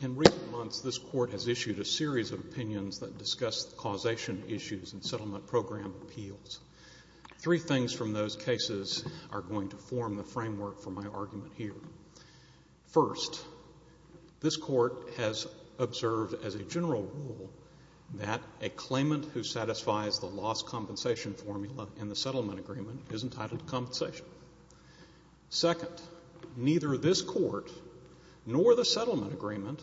In recent months, this Court has issued a series of opinions that discuss causation issues in settlement program appeals. Three things from those cases are going to form the framework for my argument here. First, this Court has observed as a general rule that a claimant who satisfies the loss compensation formula in the settlement agreement is entitled to compensation. Second, neither this Court nor the settlement agreement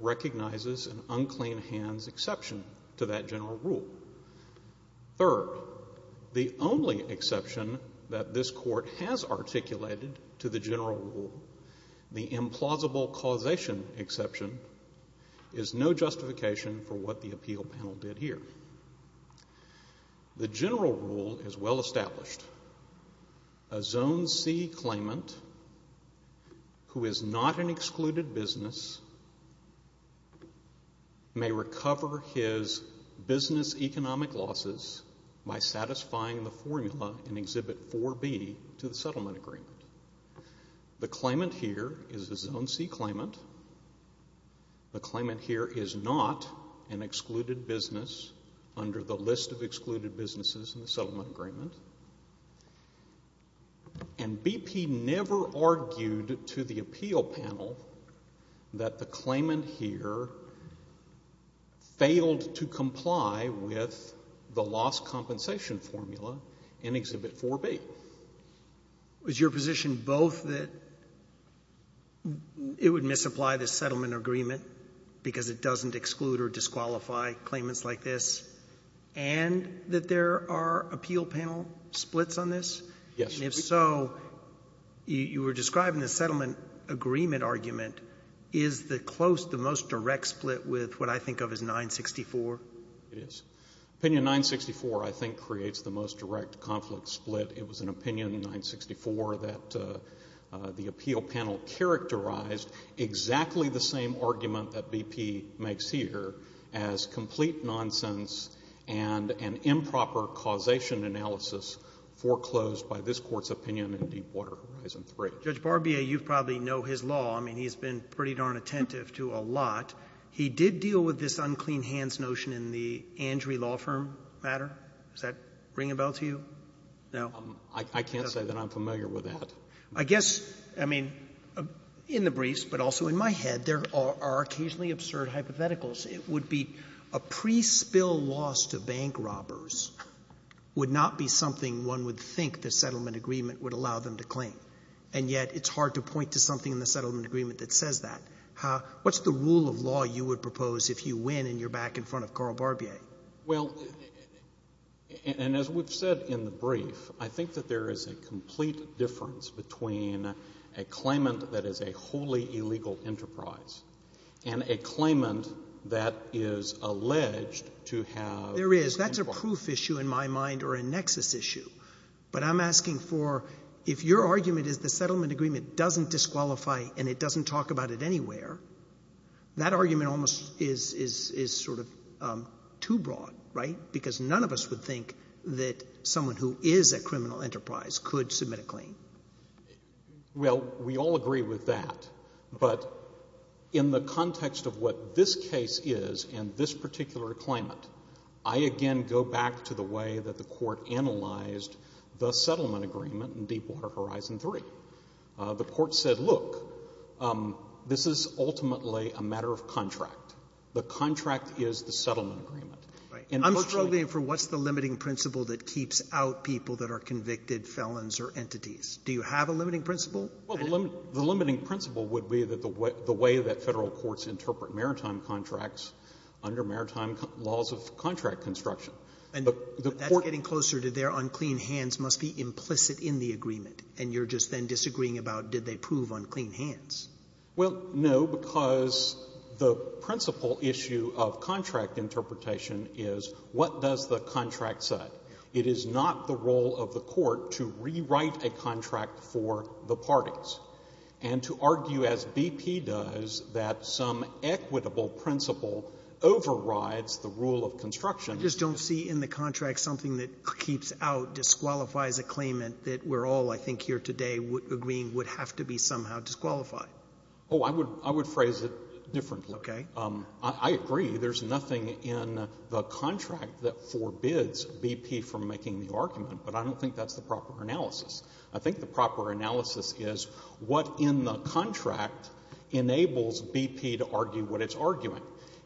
recognizes an unclean hands exception to that general rule. Third, the only exception that this Court has articulated to the general rule, the implausible causation exception, is no justification for what the appeal panel did here. The general rule is well established. A Zone C claimant who is not an excluded business may recover his business economic losses by satisfying the formula in Exhibit 4B to the settlement agreement. The claimant here is a Zone C claimant. The claimant here is not an excluded business under the list of excluded businesses in the settlement agreement. And BP never argued to the appeal panel that the claimant here failed to comply with the loss compensation formula in Exhibit 4B. Roberts. Was your position both that it would misapply the settlement agreement because it doesn't exclude or disqualify claimants like this and that there are appeal panel splits on this? Yes. And if so, you were describing the settlement agreement argument. Is the close, the most direct split with what I think of as 964? It is. Opinion 964, I think, creates the most direct conflict split. It was an opinion in 964 that the appeal panel characterized exactly the same argument that BP makes here as complete nonsense and an improper causation analysis foreclosed by this Court's opinion in Deepwater Horizon 3. Judge Barbier, you probably know his law. I mean, he's been pretty darn attentive to a lot. He did deal with this unclean hands notion in the Andry Law Firm matter. Does that ring a bell to you? No? I can't say that I'm familiar with that. I guess, I mean, in the briefs, but also in my head, there are occasionally absurd hypotheticals. It would be a pre-spill loss to bank robbers would not be something one would think the settlement agreement would allow them to claim. And yet it's hard to point to something in the settlement agreement that says that. What's the rule of law you would propose if you win and you're back in front of Carl Barbier? Well, and as we've said in the brief, I think that there is a complete difference between a claimant that is a wholly illegal enterprise and a claimant that is alleged to have... There is. That's a proof issue in my mind or a nexus issue. But I'm asking for, if your settlement agreement doesn't disqualify and it doesn't talk about it anywhere, that argument almost is sort of too broad, right? Because none of us would think that someone who is a criminal enterprise could submit a claim. Well, we all agree with that. But in the context of what this case is and this particular claimant, I again go back to the way that the Court analyzed the settlement agreement in Deepwater Horizon III. The Court said, look, this is ultimately a matter of contract. The contract is the settlement agreement. Right. I'm struggling for what's the limiting principle that keeps out people that are convicted felons or entities. Do you have a limiting principle? Well, the limiting principle would be that the way that Federal courts interpret maritime contracts under maritime laws of contract construction. And that's getting closer to their unclean hands must be implicit in the agreement. And you're just then disagreeing about did they prove unclean hands? Well, no, because the principal issue of contract interpretation is what does the contract say. It is not the role of the Court to rewrite a contract for the parties. And to argue, as BP does, that some equitable principle overrides the rule of construction I just don't see in the contract something that keeps out, disqualifies a claimant that we're all, I think, here today agreeing would have to be somehow disqualified. Oh, I would phrase it differently. Okay. I agree. There's nothing in the contract that forbids BP from making the argument, but I don't think that's the proper analysis. I think the proper analysis is what in the contract enables BP to argue what it's arguing.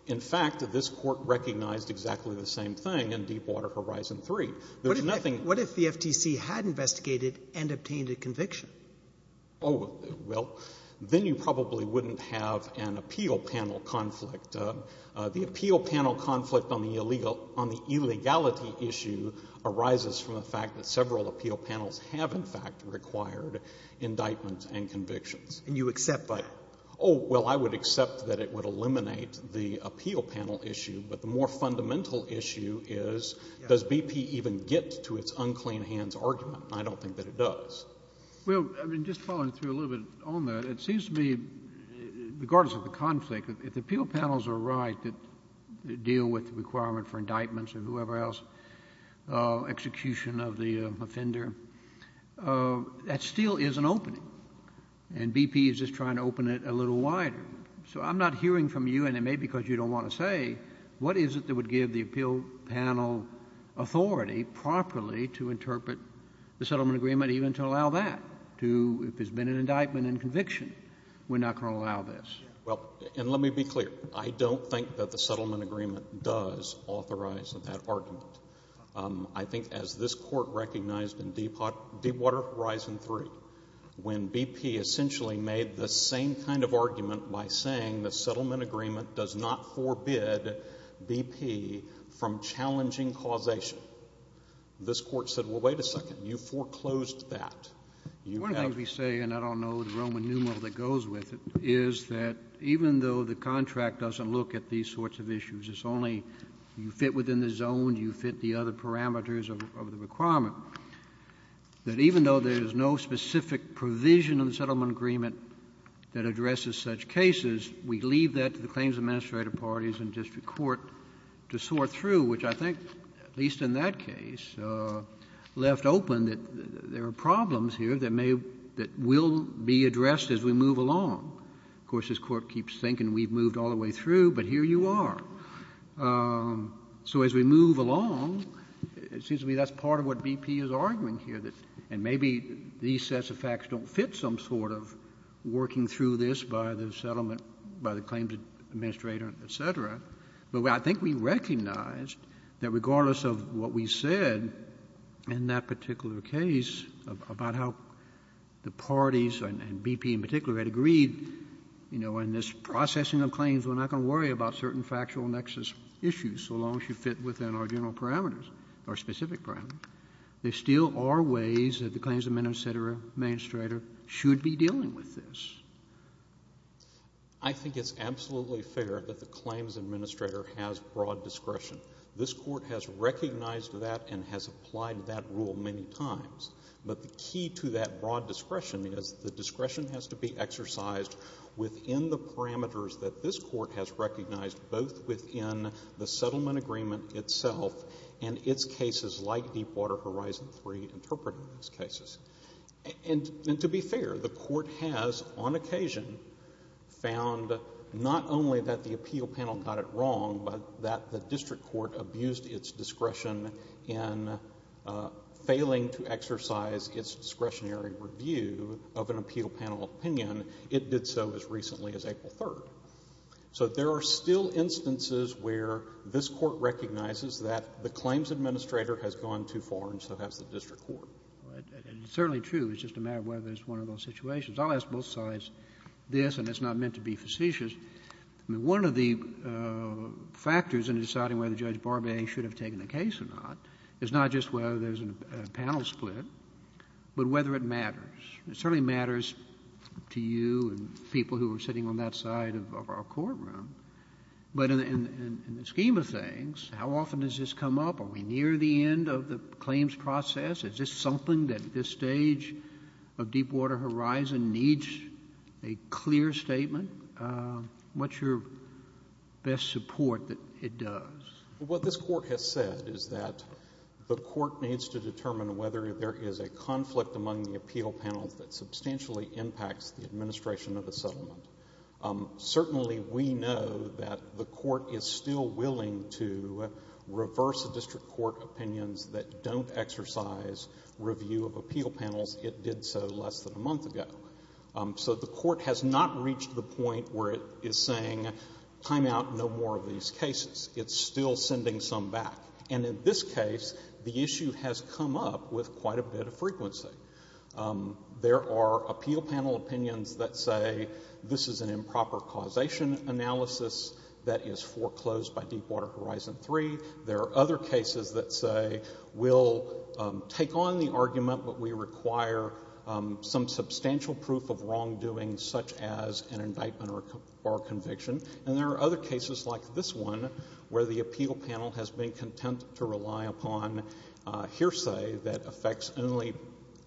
In fact, this Court recognized exactly the same thing in Deepwater Horizon 3. There's nothing What if the FTC had investigated and obtained a conviction? Oh, well, then you probably wouldn't have an appeal panel conflict. The appeal panel conflict on the illegal — on the illegality issue arises from the fact that several appeal panels have, in fact, required indictments and convictions. And you accept that? Oh, well, I would accept that it would eliminate the appeal panel issue. But the more fundamental issue is, does BP even get to its unclean hands argument? I don't think that it does. Well, I mean, just following through a little bit on that, it seems to me, regardless of the conflict, if the appeal panels are right that deal with the requirement for indictments or whoever else, execution of the offender, that still is an opening. And BP is just trying to open it a little wider. So I'm not hearing from you, Your Honor, and it may be because you don't want to say, what is it that would give the appeal panel authority properly to interpret the settlement agreement even to allow that, to — if there's been an indictment and conviction? We're not going to allow this. Well, and let me be clear. I don't think that the settlement agreement does authorize that argument. I think as this Court recognized in Deepwater Horizon 3, when BP essentially made the same kind of argument by saying the settlement agreement does not forbid BP from challenging causation, this Court said, well, wait a second. You foreclosed that. You have — One of the things we say, and I don't know the Roman numeral that goes with it, is that even though the contract doesn't look at these sorts of issues, it's only you fit within the zone, you fit the other parameters of the requirement, that even though there is no specific provision in the settlement agreement that addresses such cases, we leave that to the claims administrator parties and district court to sort through, which I think, at least in that case, left open that there are problems here that may — that will be addressed as we move along. Of course, this Court keeps thinking we've moved all the way through, but here you are. So as we move along, it seems to me that's part of what BP is arguing here, that — and maybe these sets of facts don't fit some sort of working through this by the settlement — by the claims administrator, et cetera. But I think we recognized that regardless of what we said in that particular case about how the parties, and BP in particular, had agreed, you know, in this processing of claims, we're not going to worry about certain factual nexus issues so long as you fit within our general parameters, our specific parameters, there still are ways that the claims administrator should be dealing with this. I think it's absolutely fair that the claims administrator has broad discretion. This Court has recognized that and has applied that rule many times. But the key to that broad discretion is the discretion has to be exercised within the parameters that this Court has recognized both within the settlement agreement itself and its cases like Deepwater Horizon 3 interpreted in these cases. And to be fair, the Court has on occasion found not only that the appeal panel got it wrong but that the district court abused its discretion in failing to exercise its discretionary review of an appeal panel opinion. It did so as recently as April 3rd. So there are still instances where this Court recognizes that the claims administrator has gone too far, and so has the district court. And it's certainly true. It's just a matter of whether it's one of those situations. I'll ask both sides this, and it's not meant to be facetious. One of the factors in deciding whether Judge Barbette should have taken the case or not. It certainly matters to you and people who are sitting on that side of our courtroom. But in the scheme of things, how often does this come up? Are we near the end of the claims process? Is this something that this stage of Deepwater Horizon needs a clear statement? What's your best support that it does? What this Court has said is that the Court needs to determine whether there is a conflict among the appeal panels that substantially impacts the administration of a settlement. Certainly we know that the Court is still willing to reverse the district court opinions that don't exercise review of appeal panels. It did so less than a month ago. So the Court has not reached the point where it is saying, time out, no more of these cases. It's still sending some back. And in this case, the issue has come up with quite a bit of frequency. There are appeal panel opinions that say this is an improper causation analysis that is foreclosed by Deepwater Horizon III. There are other cases that say we'll take on the argument, but we require some substantial proof of wrongdoing such as an indictment or conviction. And there are other cases like this one where the appeal panel has been content to rely upon hearsay that affects only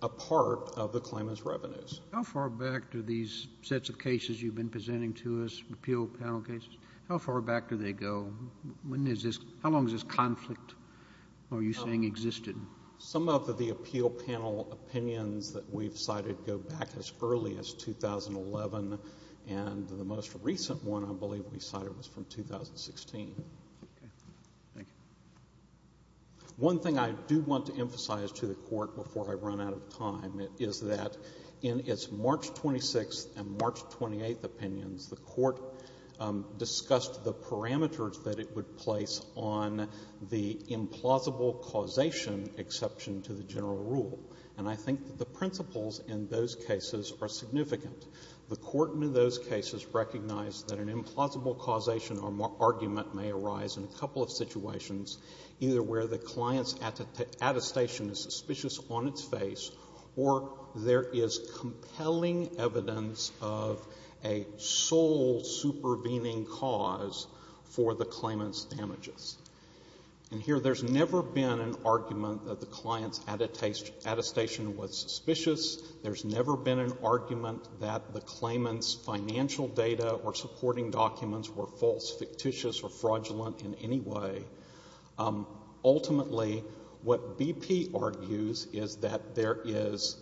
a part of the claimant's revenues. How far back do these sets of cases you've been presenting to us, appeal panel cases, how far back do they go? How long has this conflict, are you saying, existed? Some of the appeal panel opinions that we've cited go back as early as 2011. And the most recent one, I believe, we cited was from 2016. One thing I do want to emphasize to the Court before I run out of time is that in its March 26th and March 28th opinions, the Court discussed the parameters that it would place on the implausible causation exception to the general rule. And I think that the principles in those cases are significant. The Court in those cases recognized that an implausible causation or argument may arise in a couple of situations, either where the client's attestation is suspicious on its face, or there is compelling evidence of a sole supervening cause for the claimant's damages. And here, there's never been an argument that the client's attestation was suspicious. There's never been an argument that the claimant's financial data or supporting documents were false, fictitious, or fraudulent in any way. Ultimately, what BP argues is that there is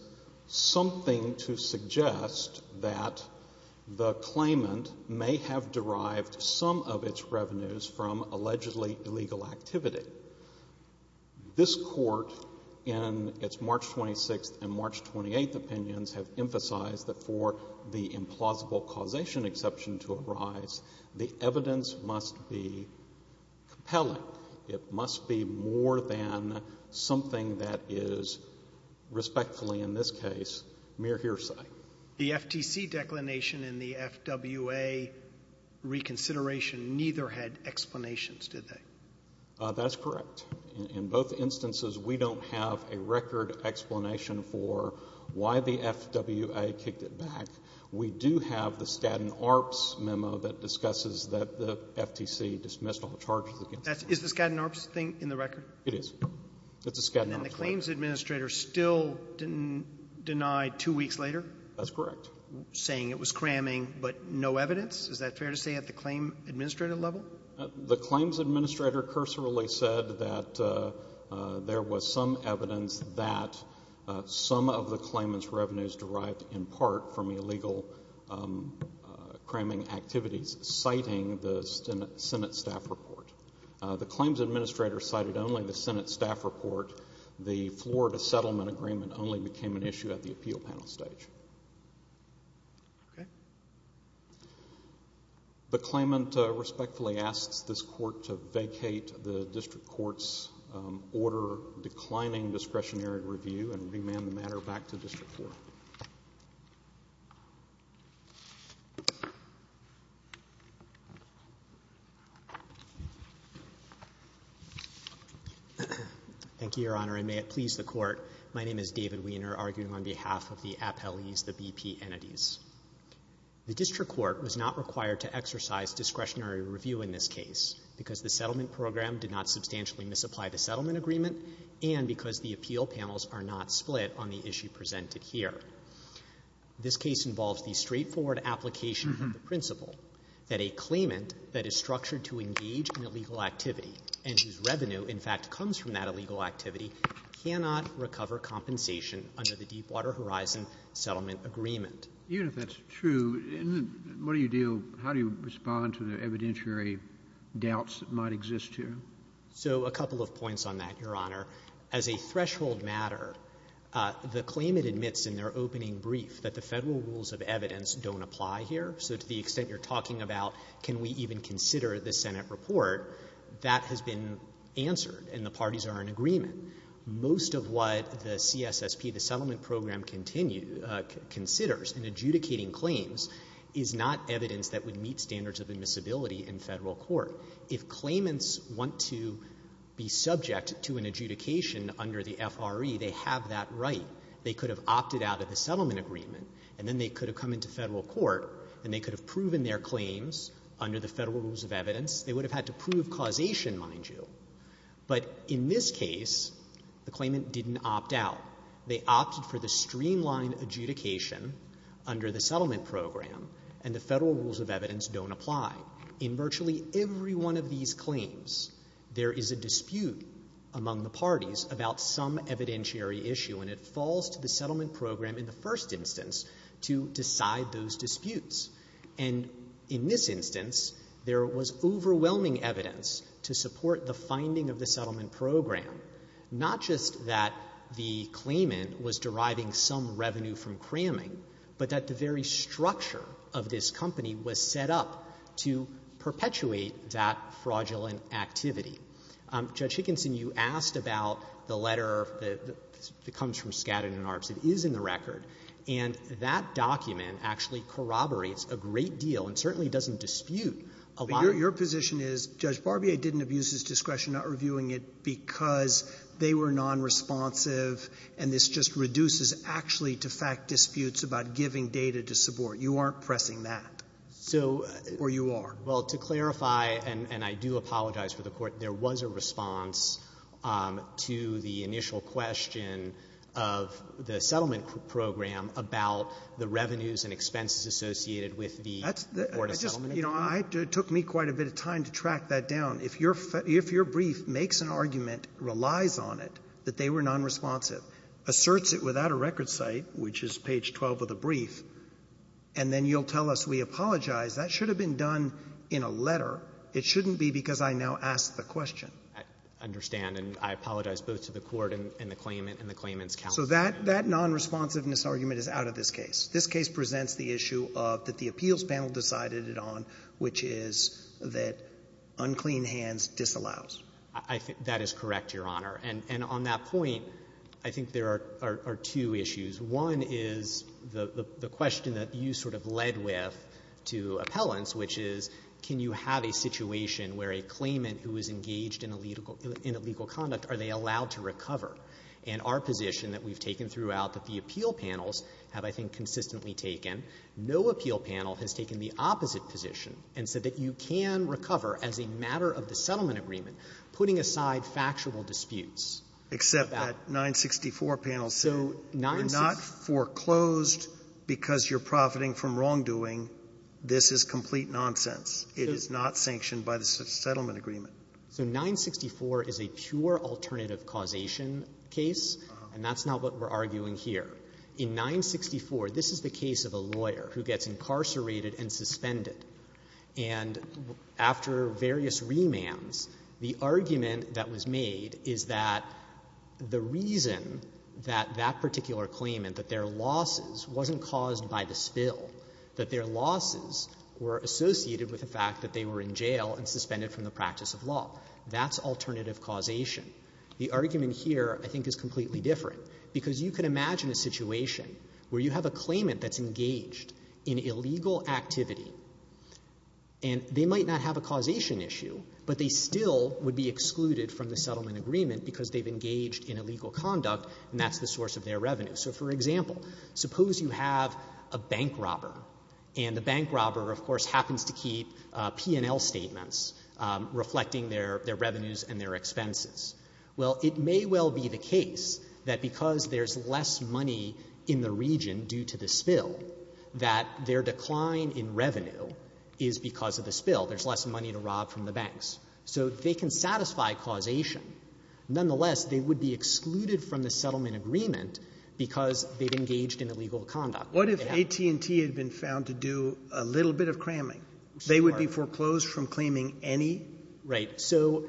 something to suggest that the claimant may have derived some of its revenues from allegedly illegal activity. This Court, in its March 26th and March 28th opinions, have emphasized that for the implausible causation exception to arise, the evidence must be compelling. It must be more than something that is respectfully, in this case, mere hearsay. The FTC declination in the FWA reconsideration neither had explanations, did they? That's correct. In both instances, we don't have a record explanation for why the FWA kicked it back. We do have the Skadden Arps memo that discusses that the FTC dismissed all charges against them. Is the Skadden Arps thing in the record? It is. It's a Skadden Arps memo. And the claims administrator still denied two weeks later? That's correct. Saying it was cramming, but no evidence? Is that fair to say at the claim administrator level? The claims administrator cursorily said that there was some evidence that some of the claimant's revenues derived, in part, from illegal cramming activities, citing the Senate staff report. The claims administrator cited only the Senate staff report. The Florida settlement agreement only became an issue at the appeal panel stage. Okay. The claimant respectfully asks this court to vacate the district court's order declining discretionary review and remand the matter back to district court. Thank you, Your Honor, and may it please the court, my name is David Wiener, and I'm here arguing on behalf of the appellees, the BP entities. The district court was not required to exercise discretionary review in this case because the settlement program did not substantially misapply the settlement agreement and because the appeal panels are not split on the issue presented here. This case involves the straightforward application of the principle that a claimant that is structured to engage in illegal activity and whose revenue, in fact, comes from that illegal activity cannot recover compensation under the Deepwater Horizon settlement agreement. Even if that's true, what do you deal — how do you respond to the evidentiary doubts that might exist here? So a couple of points on that, Your Honor. As a threshold matter, the claimant admits in their opening brief that the Federal rules of evidence don't apply here. So to the extent you're talking about can we even consider the Senate report, that has been answered and the parties are in agreement. Most of what the CSSP, the settlement program, continues — considers in adjudicating claims is not evidence that would meet standards of admissibility in Federal court. If claimants want to be subject to an adjudication under the FRE, they have that right. They could have opted out of the settlement agreement, and then they could have come into Federal court, and they could have proven their claims under the Federal rules of evidence. They would have had to prove causation, mind you. But in this case, the claimant didn't opt out. They opted for the streamlined adjudication under the settlement program, and the Federal rules of evidence don't apply. In virtually every one of these claims, there is a dispute among the parties about some evidentiary issue, and it falls to the settlement program in the first instance to decide those disputes. And in this instance, there was overwhelming evidence to support the finding of the settlement program, not just that the claimant was deriving some revenue from cramming, but that the very structure of this company was set up to perpetuate that fraudulent activity. Judge Hickinson, you asked about the letter that comes from Skadden and Arps. It is in the record. And that document actually corroborates a great deal and certainly doesn't dispute a lot. Sotomayor, your position is, Judge Barbier didn't abuse his discretion, not reviewing it, because they were nonresponsive, and this just reduces, actually, to fact disputes about giving data to support. You aren't pressing that, or you are. Well, to clarify, and I do apologize for the Court, there was a response to the initial question of the settlement program about the revenues and expenses associated with the Board of Settlement Affairs. That's the question. You know, it took me quite a bit of time to track that down. If your brief makes an argument, relies on it, that they were nonresponsive, asserts it without a record site, which is page 12 of the brief, and then you'll tell us we apologize, that should have been done in a letter. It shouldn't be because I now ask the question. I understand. And I apologize both to the Court and the claimant and the claimant's counsel. So that nonresponsiveness argument is out of this case. This case presents the issue of that the appeals panel decided it on, which is that unclean hands disallows. I think that is correct, Your Honor. And on that point, I think there are two issues. One is the question that you sort of led with to appellants, which is can you have a situation where a claimant who is engaged in illegal conduct, are they allowed to recover? And our position that we've taken throughout that the appeal panels have, I think, consistently taken, no appeal panel has taken the opposite position and said that you can recover as a matter of the settlement agreement, putting aside factual disputes. Except that 964 panel said we're not foreclosed because you're profiting from wrongdoing. This is complete nonsense. It is not sanctioned by the settlement agreement. So 964 is a pure alternative causation case, and that's not what we're arguing here. In 964, this is the case of a lawyer who gets incarcerated and suspended. And after various remands, the argument that was made is that the reason that that particular claimant, that their losses wasn't caused by the spill, that their losses were associated with the fact that they were in jail and suspended from the practice of law. That's alternative causation. The argument here, I think, is completely different, because you can imagine a situation where you have a claimant that's engaged in illegal activity, and they might not have a causation issue, but they still would be excluded from the settlement agreement because they've engaged in illegal conduct, and that's the source of their revenue. So for example, suppose you have a bank robber, and the bank robber, of course, happens to keep P&L statements reflecting their revenues and their expenses. Well, it may well be the case that because there's less money in the region due to the spill, that their decline in revenue is because of the spill. There's less money to rob from the banks. So they can satisfy causation. Nonetheless, they would be excluded from the settlement agreement because they've engaged in illegal conduct. What if AT&T had been found to do a little bit of cramming? They would be foreclosed from claiming any? Right. So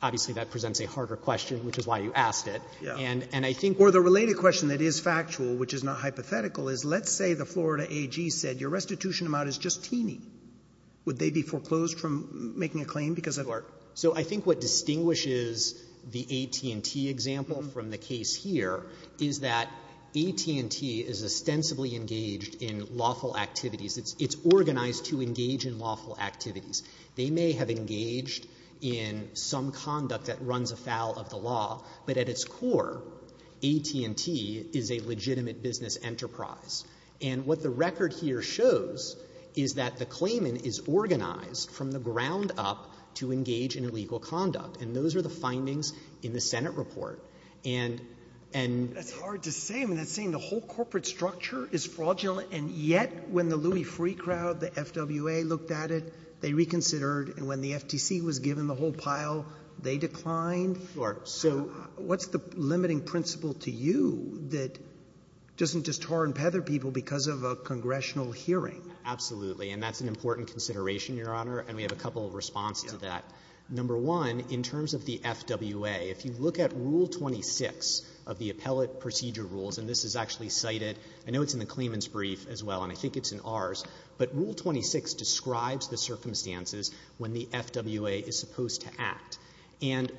obviously, that presents a harder question, which is why you asked it, and I think Or the related question that is factual, which is not hypothetical, is let's say the Florida AG said your restitution amount is just teeny. Would they be foreclosed from making a claim because of that? So I think what distinguishes the AT&T example from the case here is that AT&T is ostensibly engaged in lawful activities. It's organized to engage in lawful activities. They may have engaged in some conduct that runs afoul of the law, but at its core, AT&T is a legitimate business enterprise. And what the record here shows is that the claimant is organized from the ground up to engage in illegal conduct. And those are the findings in the Senate report. And, and That's hard to say. I mean, that's saying the whole corporate structure is fraudulent, and yet when the Louis Freeh crowd, the FWA, looked at it, they reconsidered, and when the FTC was given the whole pile, they declined? Sure. So what's the limiting principle to you that doesn't just torn and peather people because of a congressional hearing? Absolutely. And that's an important consideration, Your Honor. And we have a couple of responses to that. Number one, in terms of the FWA, if you look at Rule 26 of the Appellate Procedure Rules, and this is actually cited, I know it's in the claimant's brief as well, and I think it's in ours, but Rule 26 describes the circumstances when the FWA is supposed to act. And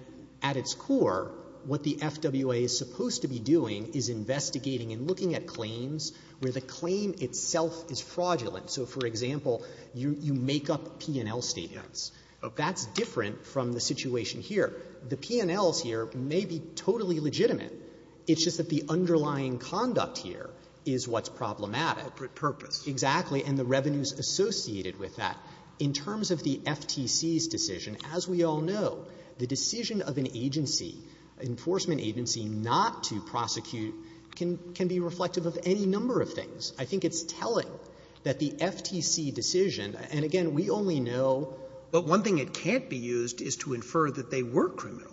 at its core, what the FWA is supposed to be doing is investigating and looking at claims where the claim itself is fraudulent. So, for example, you make up P&L statements. That's different from the situation here. The P&Ls here may be totally legitimate. It's just that the underlying conduct here is what's problematic. Purpose. Exactly. And the revenues associated with that. In terms of the FTC's decision, as we all know, the decision of an agency, an enforcement agency, not to prosecute can be reflective of any number of things. I think it's telling that the FTC decision, and, again, we only know that one thing it can't be used is to infer that they were criminal.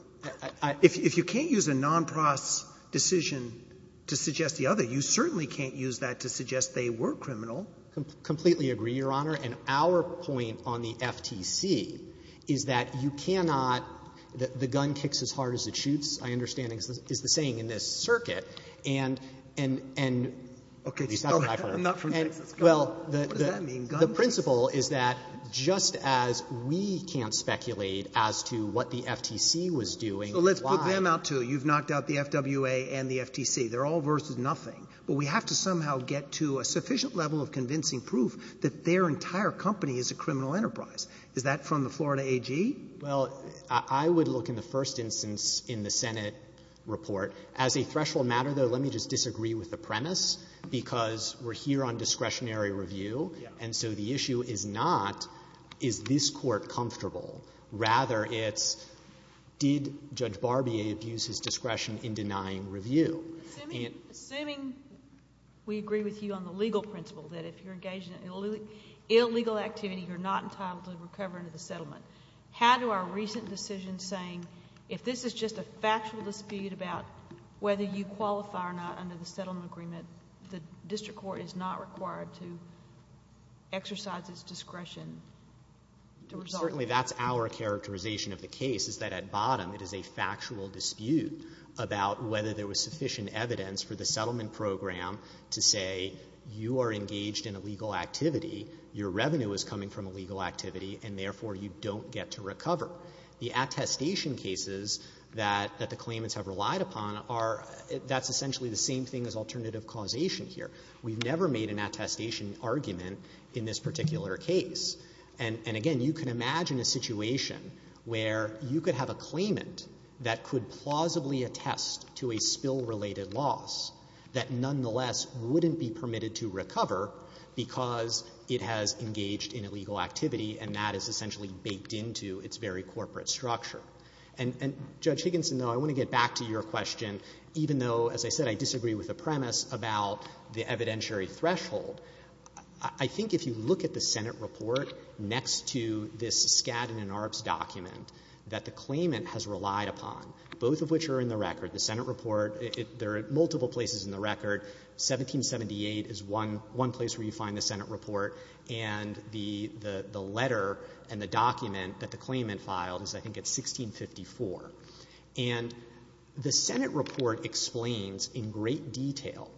If you can't use a nonpros decision to suggest the other, you certainly can't use that to suggest they were criminal. Completely agree, Your Honor. And our point on the FTC is that you cannot the gun kicks as hard as it shoots, I understand, is the saying in this circuit. And the principle is that just as we can't speculate as to what the FTC was doing and why. So let's put them out to, you've knocked out the FWA and the FTC, they're all versus nothing. But we have to somehow get to a sufficient level of convincing proof that their entire company is a criminal enterprise. Is that from the Florida AG? Well, I would look in the first instance in the Senate report. As a threshold matter, though, let me just disagree with the premise, because we're here on discretionary review, and so the issue is not, is this court comfortable? Rather, it's, did Judge Barbier abuse his discretion in denying review? Assuming we agree with you on the legal principle that if you're engaged in illegal activity, you're not entitled to recover under the settlement, how do our recent decisions saying, if this is just a factual dispute about whether you qualify or not under the settlement agreement, the district court is not required to exercise its discretion to resolve it? Certainly, that's our characterization of the case, is that at bottom, it is a factual dispute about whether there was sufficient evidence for the settlement program to say, you are engaged in illegal activity, your revenue is coming from illegal activity, and therefore, you don't get to recover. The attestation cases that the claimants have relied upon are, that's essentially the same thing as alternative causation here. We've never made an attestation argument in this particular case. And again, you can imagine a situation where you could have a claimant that could plausibly attest to a spill-related loss that nonetheless wouldn't be permitted to recover because it has engaged in illegal activity, and that is essentially baked into its very corporate structure. And, Judge Higginson, though, I want to get back to your question, even though, as I said, I disagree with the premise about the evidentiary threshold, I think if you look at the Senate report next to this Skadden and Arps document that the claimant has relied upon, both of which are in the record, the Senate report, there are multiple places in the record, 1778 is one place where you find the Senate report, and the letter and the document that the claimant filed is, I think, it's 1654. And the Senate report explains in great detail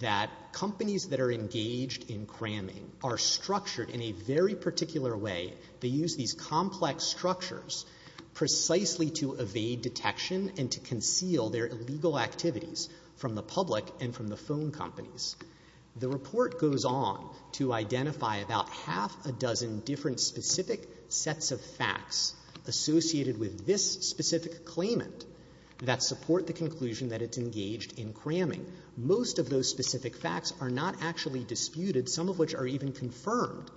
that companies that are engaged in cramming are structured in a very particular way. They use these complex structures precisely to evade detection and to conceal their illegal activities from the public and from the phone companies. The report goes on to identify about half a dozen different specific sets of facts associated with this specific claimant that support the conclusion that it's engaged in cramming. Most of those specific facts are not actually disputed, some of which are even confirmed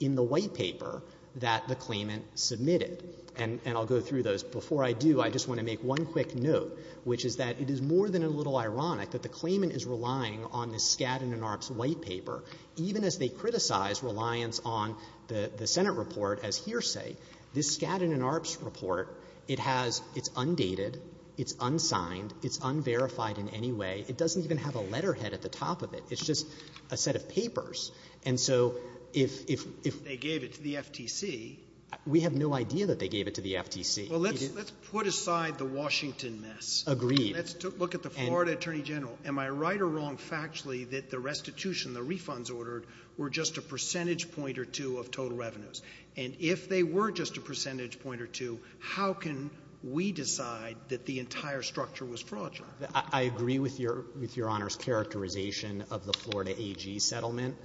in the white paper that the claimant submitted. And I'll go through those. Before I do, I just want to make one quick note, which is that it is more than a little ironic that the claimant is relying on this Skadden and Arps white paper, even as they criticize reliance on the Senate report as hearsay. This Skadden and Arps report, it has its undated, its unsigned, its unverified in any way. It doesn't even have a letterhead at the top of it. It's just a set of papers. And so if they gave it to the FTC, we have no idea that they gave it to the FTC. Well, let's put aside the Washington mess. Agreed. Let's look at the Florida Attorney General. Am I right or wrong factually that the restitution, the refunds ordered, were just a percentage point or two of total revenues? And if they were just a percentage point or two, how can we decide that the entire structure was fraudulent? I agree with your Honor's characterization of the Florida AG settlement.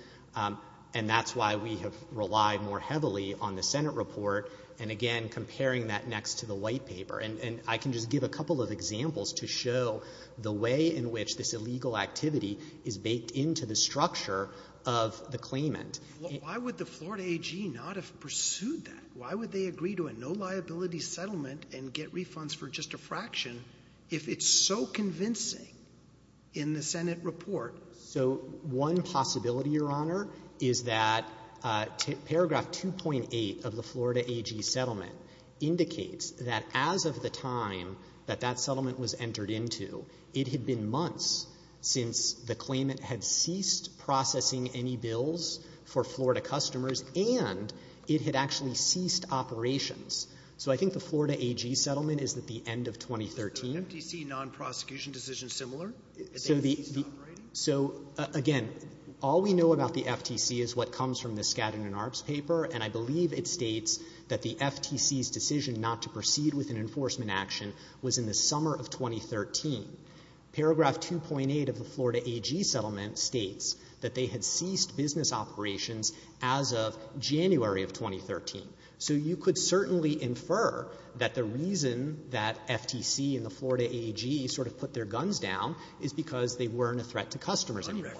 And that's why we have relied more heavily on the Senate report. And again, comparing that next to the white paper. And I can just give a couple of examples to show the way in which this illegal activity is baked into the structure of the claimant. Why would the Florida AG not have pursued that? Why would they agree to a no liability settlement and get refunds for just a fraction if it's so convincing in the Senate report? So one possibility, Your Honor, is that paragraph 2.8 of the Florida AG settlement indicates that as of the time that that settlement was entered into, it had been months since the claimant had ceased processing any bills for Florida customers and it had actually ceased operations. So I think the Florida AG settlement is at the end of 2013. Is the FTC nonprosecution decision similar? So the FTC is not operating? So again, all we know about the FTC is what comes from the Skadden and Arps paper, and I believe it states that the FTC's decision not to proceed with an enforcement action was in the summer of 2013. Paragraph 2.8 of the Florida AG settlement states that they had ceased business operations as of January of 2013. So you could certainly infer that the reason that FTC and the Florida AG sort of put their guns down is because they weren't a threat to customers anymore.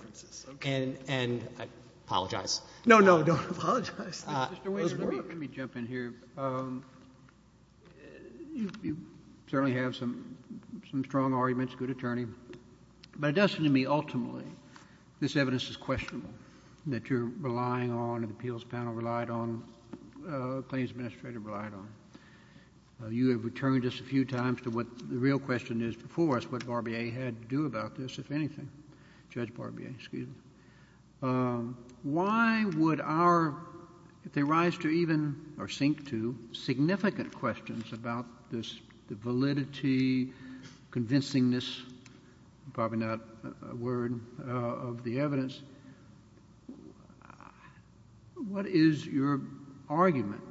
And I apologize. No, no, don't apologize. Mr. Weiser, let me jump in here. You certainly have some strong arguments, good attorney, but it doesn't to me ultimately this evidence is questionable, that you're relying on and the appeals panel relied on, the claims administrator relied on. You have returned just a few times to what the real question is before us, what Barbier had to do about this, if anything, Judge Barbier, excuse me. Why would our, if they rise to even, or sink to, significant questions about this, the your argument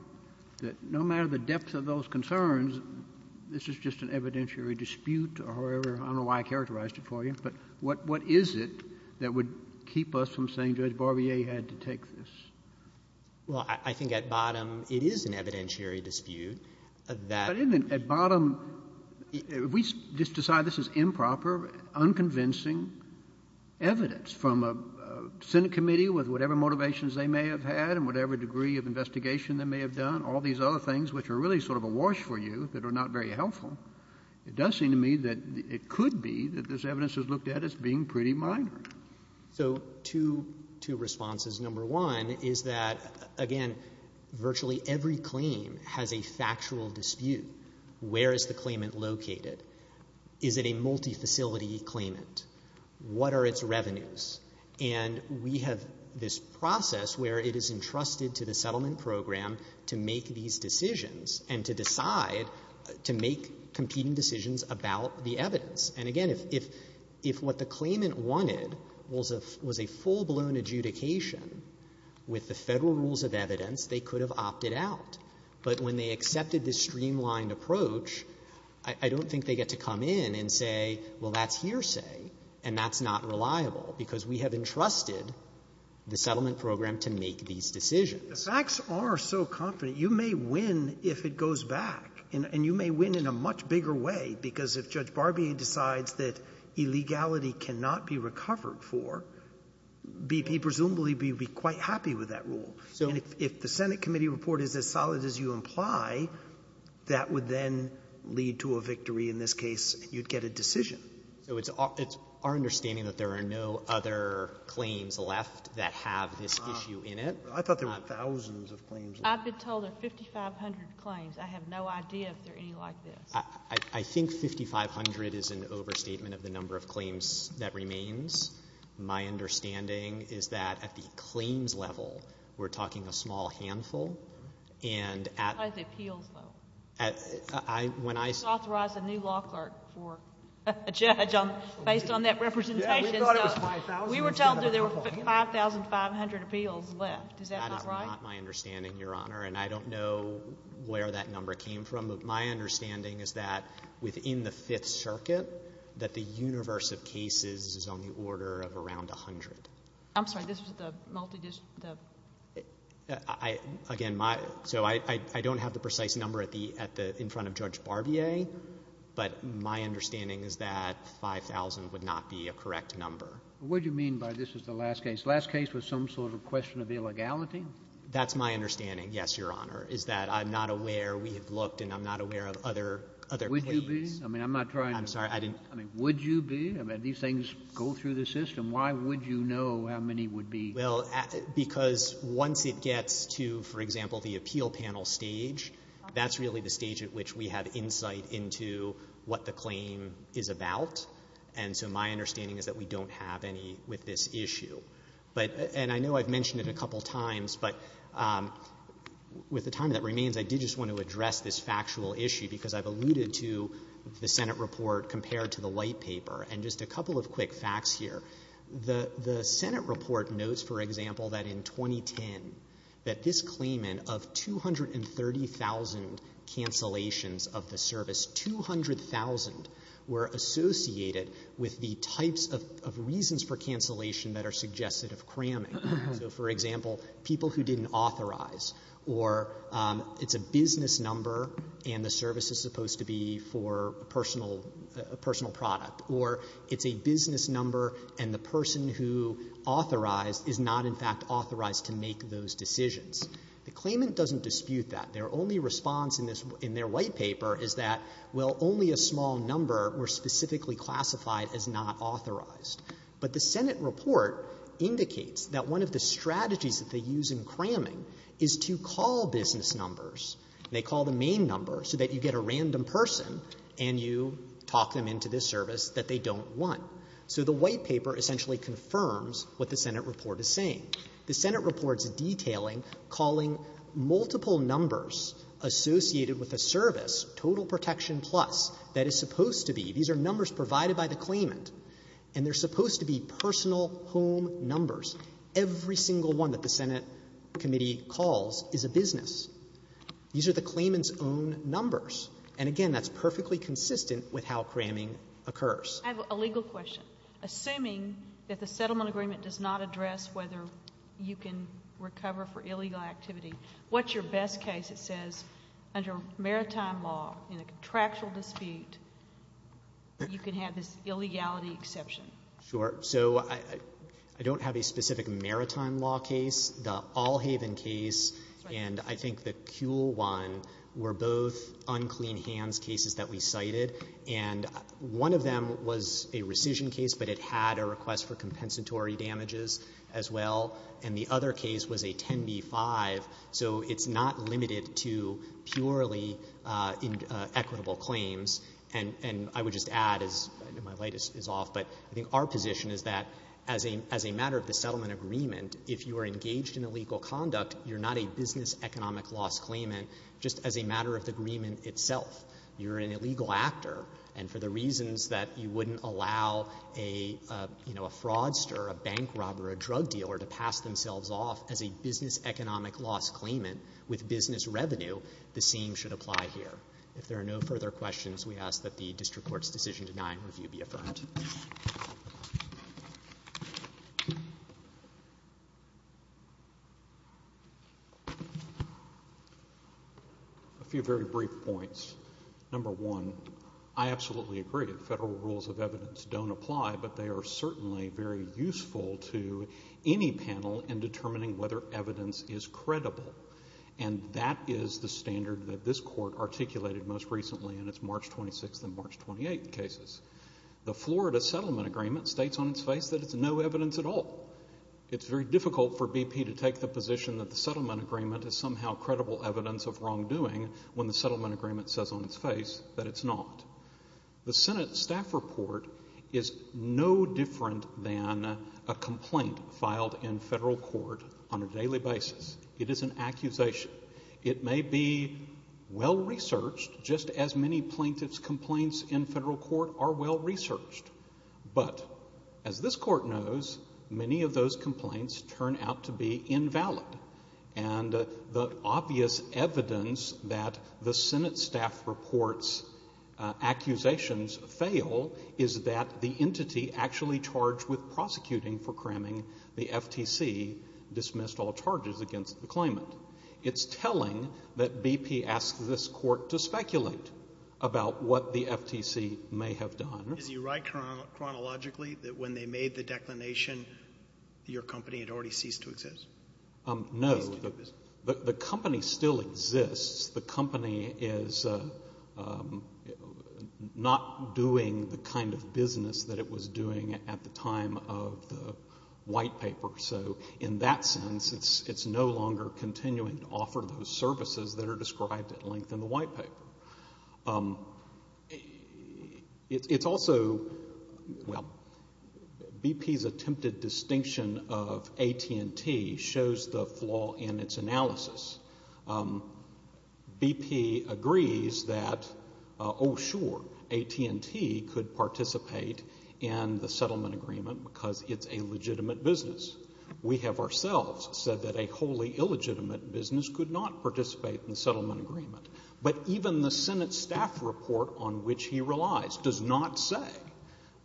that no matter the depth of those concerns, this is just an evidentiary dispute or however, I don't know why I characterized it for you, but what is it that would keep us from saying Judge Barbier had to take this? Well, I think at bottom, it is an evidentiary dispute, that at bottom, if we just decide this is improper, unconvincing evidence from a Senate committee with whatever motivations they may have had and whatever degree of investigation they may have done, all these other things which are really sort of awash for you that are not very helpful, it does seem to me that it could be that this evidence is looked at as being pretty minor. So two responses. Number one is that, again, virtually every claim has a factual dispute. Where is the claimant located? Is it a multifacility claimant? What are its revenues? And we have this process where it is entrusted to the settlement program to make these decisions and to decide, to make competing decisions about the evidence. And again, if what the claimant wanted was a full-blown adjudication with the Federal rules of evidence, they could have opted out. But when they accepted this streamlined approach, I don't think they get to come in and say, well, that's hearsay, and that's not reliable, because we have entrusted the settlement program to make these decisions. Sotomayor, the facts are so confident, you may win if it goes back. And you may win in a much bigger way, because if Judge Barbier decides that illegality cannot be recovered for, BP presumably would be quite happy with that rule. And if the Senate committee report is as solid as you imply, that would then lead to a victory, in this case, you'd get a decision. So it's our understanding that there are no other claims left that have this issue in it. I thought there were thousands of claims left. I've been told there are 5,500 claims. I have no idea if there are any like this. I think 5,500 is an overstatement of the number of claims that remains. My understanding is that at the claims level, we're talking a small handful. And at the appeals level. I, when I say – You just authorized a new law clerk for a judge based on that representation. Yeah, we thought it was 5,000. We were told there were 5,500 appeals left. Is that not right? That is not my understanding, Your Honor. And I don't know where that number came from. My understanding is that within the Fifth Circuit, that the universe of cases is on the order of around 100. I'm sorry. This was the multidisciplinary – Again, my – so I don't have the precise number at the – in front of Judge Barbier. But my understanding is that 5,000 would not be a correct number. What do you mean by this is the last case? Last case was some sort of question of illegality? That's my understanding, yes, Your Honor, is that I'm not aware – we have looked and I'm not aware of other claims. Would you be? I mean, I'm not trying to – I'm sorry. I didn't – I mean, would you be? I mean, these things go through the system. Why would you know how many would be? Well, because once it gets to, for example, the appeal panel stage, that's really the stage at which we have insight into what the claim is about. And so my understanding is that we don't have any with this issue. But – and I know I've mentioned it a couple times, but with the time that remains, I did just want to address this factual issue because I've alluded to the Senate report compared to the white paper. And just a couple of quick facts here. The Senate report notes, for example, that in 2010, that this claimant of 230,000 cancellations of the service, 200,000 were associated with the types of reasons for cancellation that are suggested of cramming. So, for example, people who didn't authorize, or it's a business number and the service is supposed to be for a personal product, or it's a business number and the person who authorized is not, in fact, authorized to make those decisions. The claimant doesn't dispute that. Their only response in this – in their white paper is that, well, only a small number were specifically classified as not authorized. But the Senate report indicates that one of the strategies that they use in cramming is to call business numbers. They call the main number so that you get a random person and you talk them into this service that they don't want. So the white paper essentially confirms what the Senate report is saying. The Senate report's detailing calling multiple numbers associated with a service, total protection plus, that is supposed to be – these are numbers provided by the claimant, and they're supposed to be personal home numbers. Every single one that the Senate committee calls is a business. These are the claimant's own numbers. And, again, that's perfectly consistent with how cramming occurs. I have a legal question. Assuming that the settlement agreement does not address whether you can recover for illegal activity, what's your best case that says under maritime law, in a contractual dispute, you can have this illegality exception? Sure. So I don't have a specific maritime law case. The Allhaven case and, I think, the Kuehl one were both unclean hands cases that we cited. And one of them was a rescission case, but it had a request for compensatory damages as well. And the other case was a 10b-5. So it's not limited to purely equitable claims. And I would just add, as my light is off, but I think our position is that as a matter of the settlement agreement, if you are engaged in illegal conduct, you're not a business economic loss claimant, just as a matter of the agreement itself. You're an illegal actor, and for the reasons that you wouldn't allow a, you know, a fraudster, a bank robber, a drug dealer to pass themselves off as a business economic loss claimant with business revenue, the same should apply here. If there are no further questions, we ask that the district court's decision denying review be affirmed. A few very brief points. Number one, I absolutely agree. Federal rules of evidence don't apply, but they are certainly very useful to any panel in determining whether evidence is credible. And that is the standard that this court articulated most recently in its March 26th and March 28th cases. The Florida settlement agreement states on its face that it's no evidence at all. It's very difficult for BP to take the position that the settlement agreement is somehow credible evidence of wrongdoing when the settlement agreement says on its face that it's not. The Senate staff report is no different than a complaint filed in federal court on a daily basis. It is an accusation. It may be well-researched, just as many plaintiff's complaints in federal court are well-researched. But as this court knows, many of those complaints turn out to be invalid. And the obvious evidence that the Senate staff report's accusations fail is that the entity actually charged with prosecuting for cramming the FTC dismissed all charges against the claimant. It's telling that BP asks this court to speculate about what the FTC may have done. Is he right chronologically that when they made the declination, your company had already ceased to exist? No. The company still exists. The company is not doing the kind of business that it was doing at the time of the White Paper. So in that sense, it's no longer continuing to offer those services that are described at length in the White Paper. It's also, well, BP's attempted distinction of AT&T shows the flaw in its analysis. BP agrees that, oh, sure, AT&T could participate in the settlement agreement because it's a legitimate business. We have ourselves said that a wholly illegitimate business could not participate in the settlement agreement. But even the Senate staff report on which he relies does not say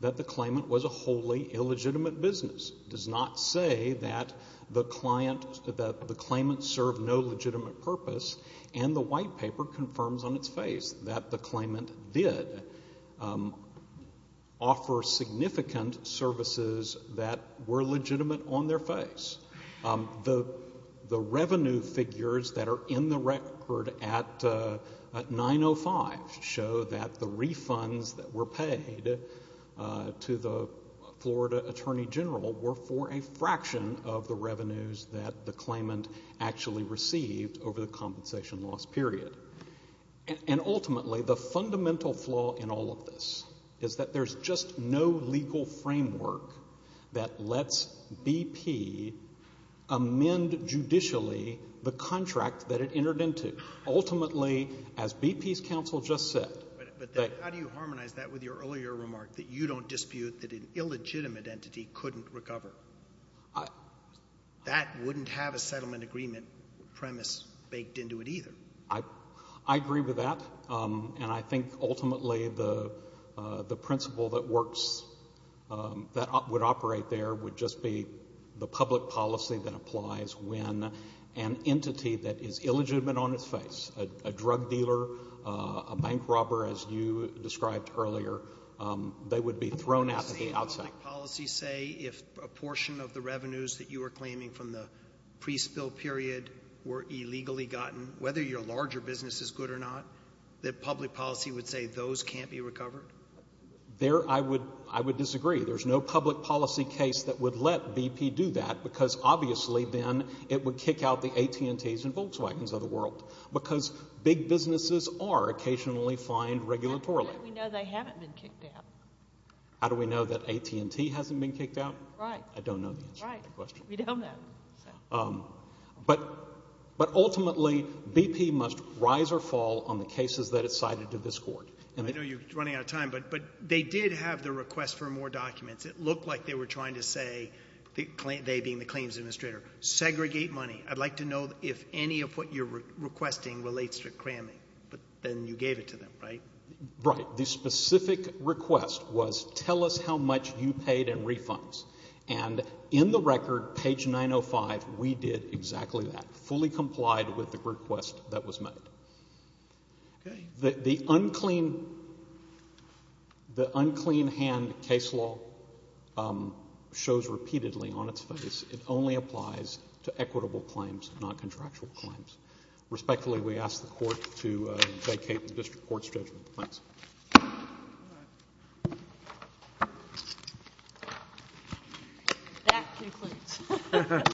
that the claimant was a wholly illegitimate business, does not say that the claimant served no legitimate purpose. And the White Paper confirms on its face that the claimant did offer significant services that were legitimate on their face. The revenue figures that are in the record at 905 show that the refunds that were paid to the Florida Attorney General were for a fraction of the revenues that the claimant actually received over the compensation loss period. And ultimately, the fundamental flaw in all of this is that there's just no legal framework that lets BP amend judicially the contract that it entered into. Ultimately, as BP's counsel just said that they How do you harmonize that with your earlier remark that you don't dispute that an illegitimate entity couldn't recover? That wouldn't have a settlement agreement premise baked into it either. I agree with that. And I think ultimately the principle that works, that would operate there would just be the public policy that applies when an entity that is illegitimate on its face, a drug dealer, a bank robber as you described earlier, they would be thrown out at the outset. Does the public policy say if a portion of the revenues that you were claiming from the pre-spill period were illegally gotten, whether your larger business is good or not, that public policy would say those can't be recovered? There, I would disagree. There's no public policy case that would let BP do that because obviously then it would kick out the AT&T's and Volkswagen's of the world. Because big businesses are occasionally fined regulatory. How do we know they haven't been kicked out? How do we know that AT&T hasn't been kicked out? Right. I don't know the answer to that question. Right. We don't know. But ultimately BP must rise or fall on the cases that it's cited to this court. I know you're running out of time, but they did have the request for more documents. It looked like they were trying to say, they being the claims administrator, segregate money. I'd like to know if any of what you're requesting relates to cramming. But then you gave it to them, right? Right. The specific request was tell us how much you paid in refunds. And in the record, page 905, we did exactly that. Fully complied with the request that was made. The unclean hand case law shows repeatedly on its face it only applies to equitable claims, not contractual claims. Respectfully, we ask the court to vacate the district court's judgment. Thanks. That concludes.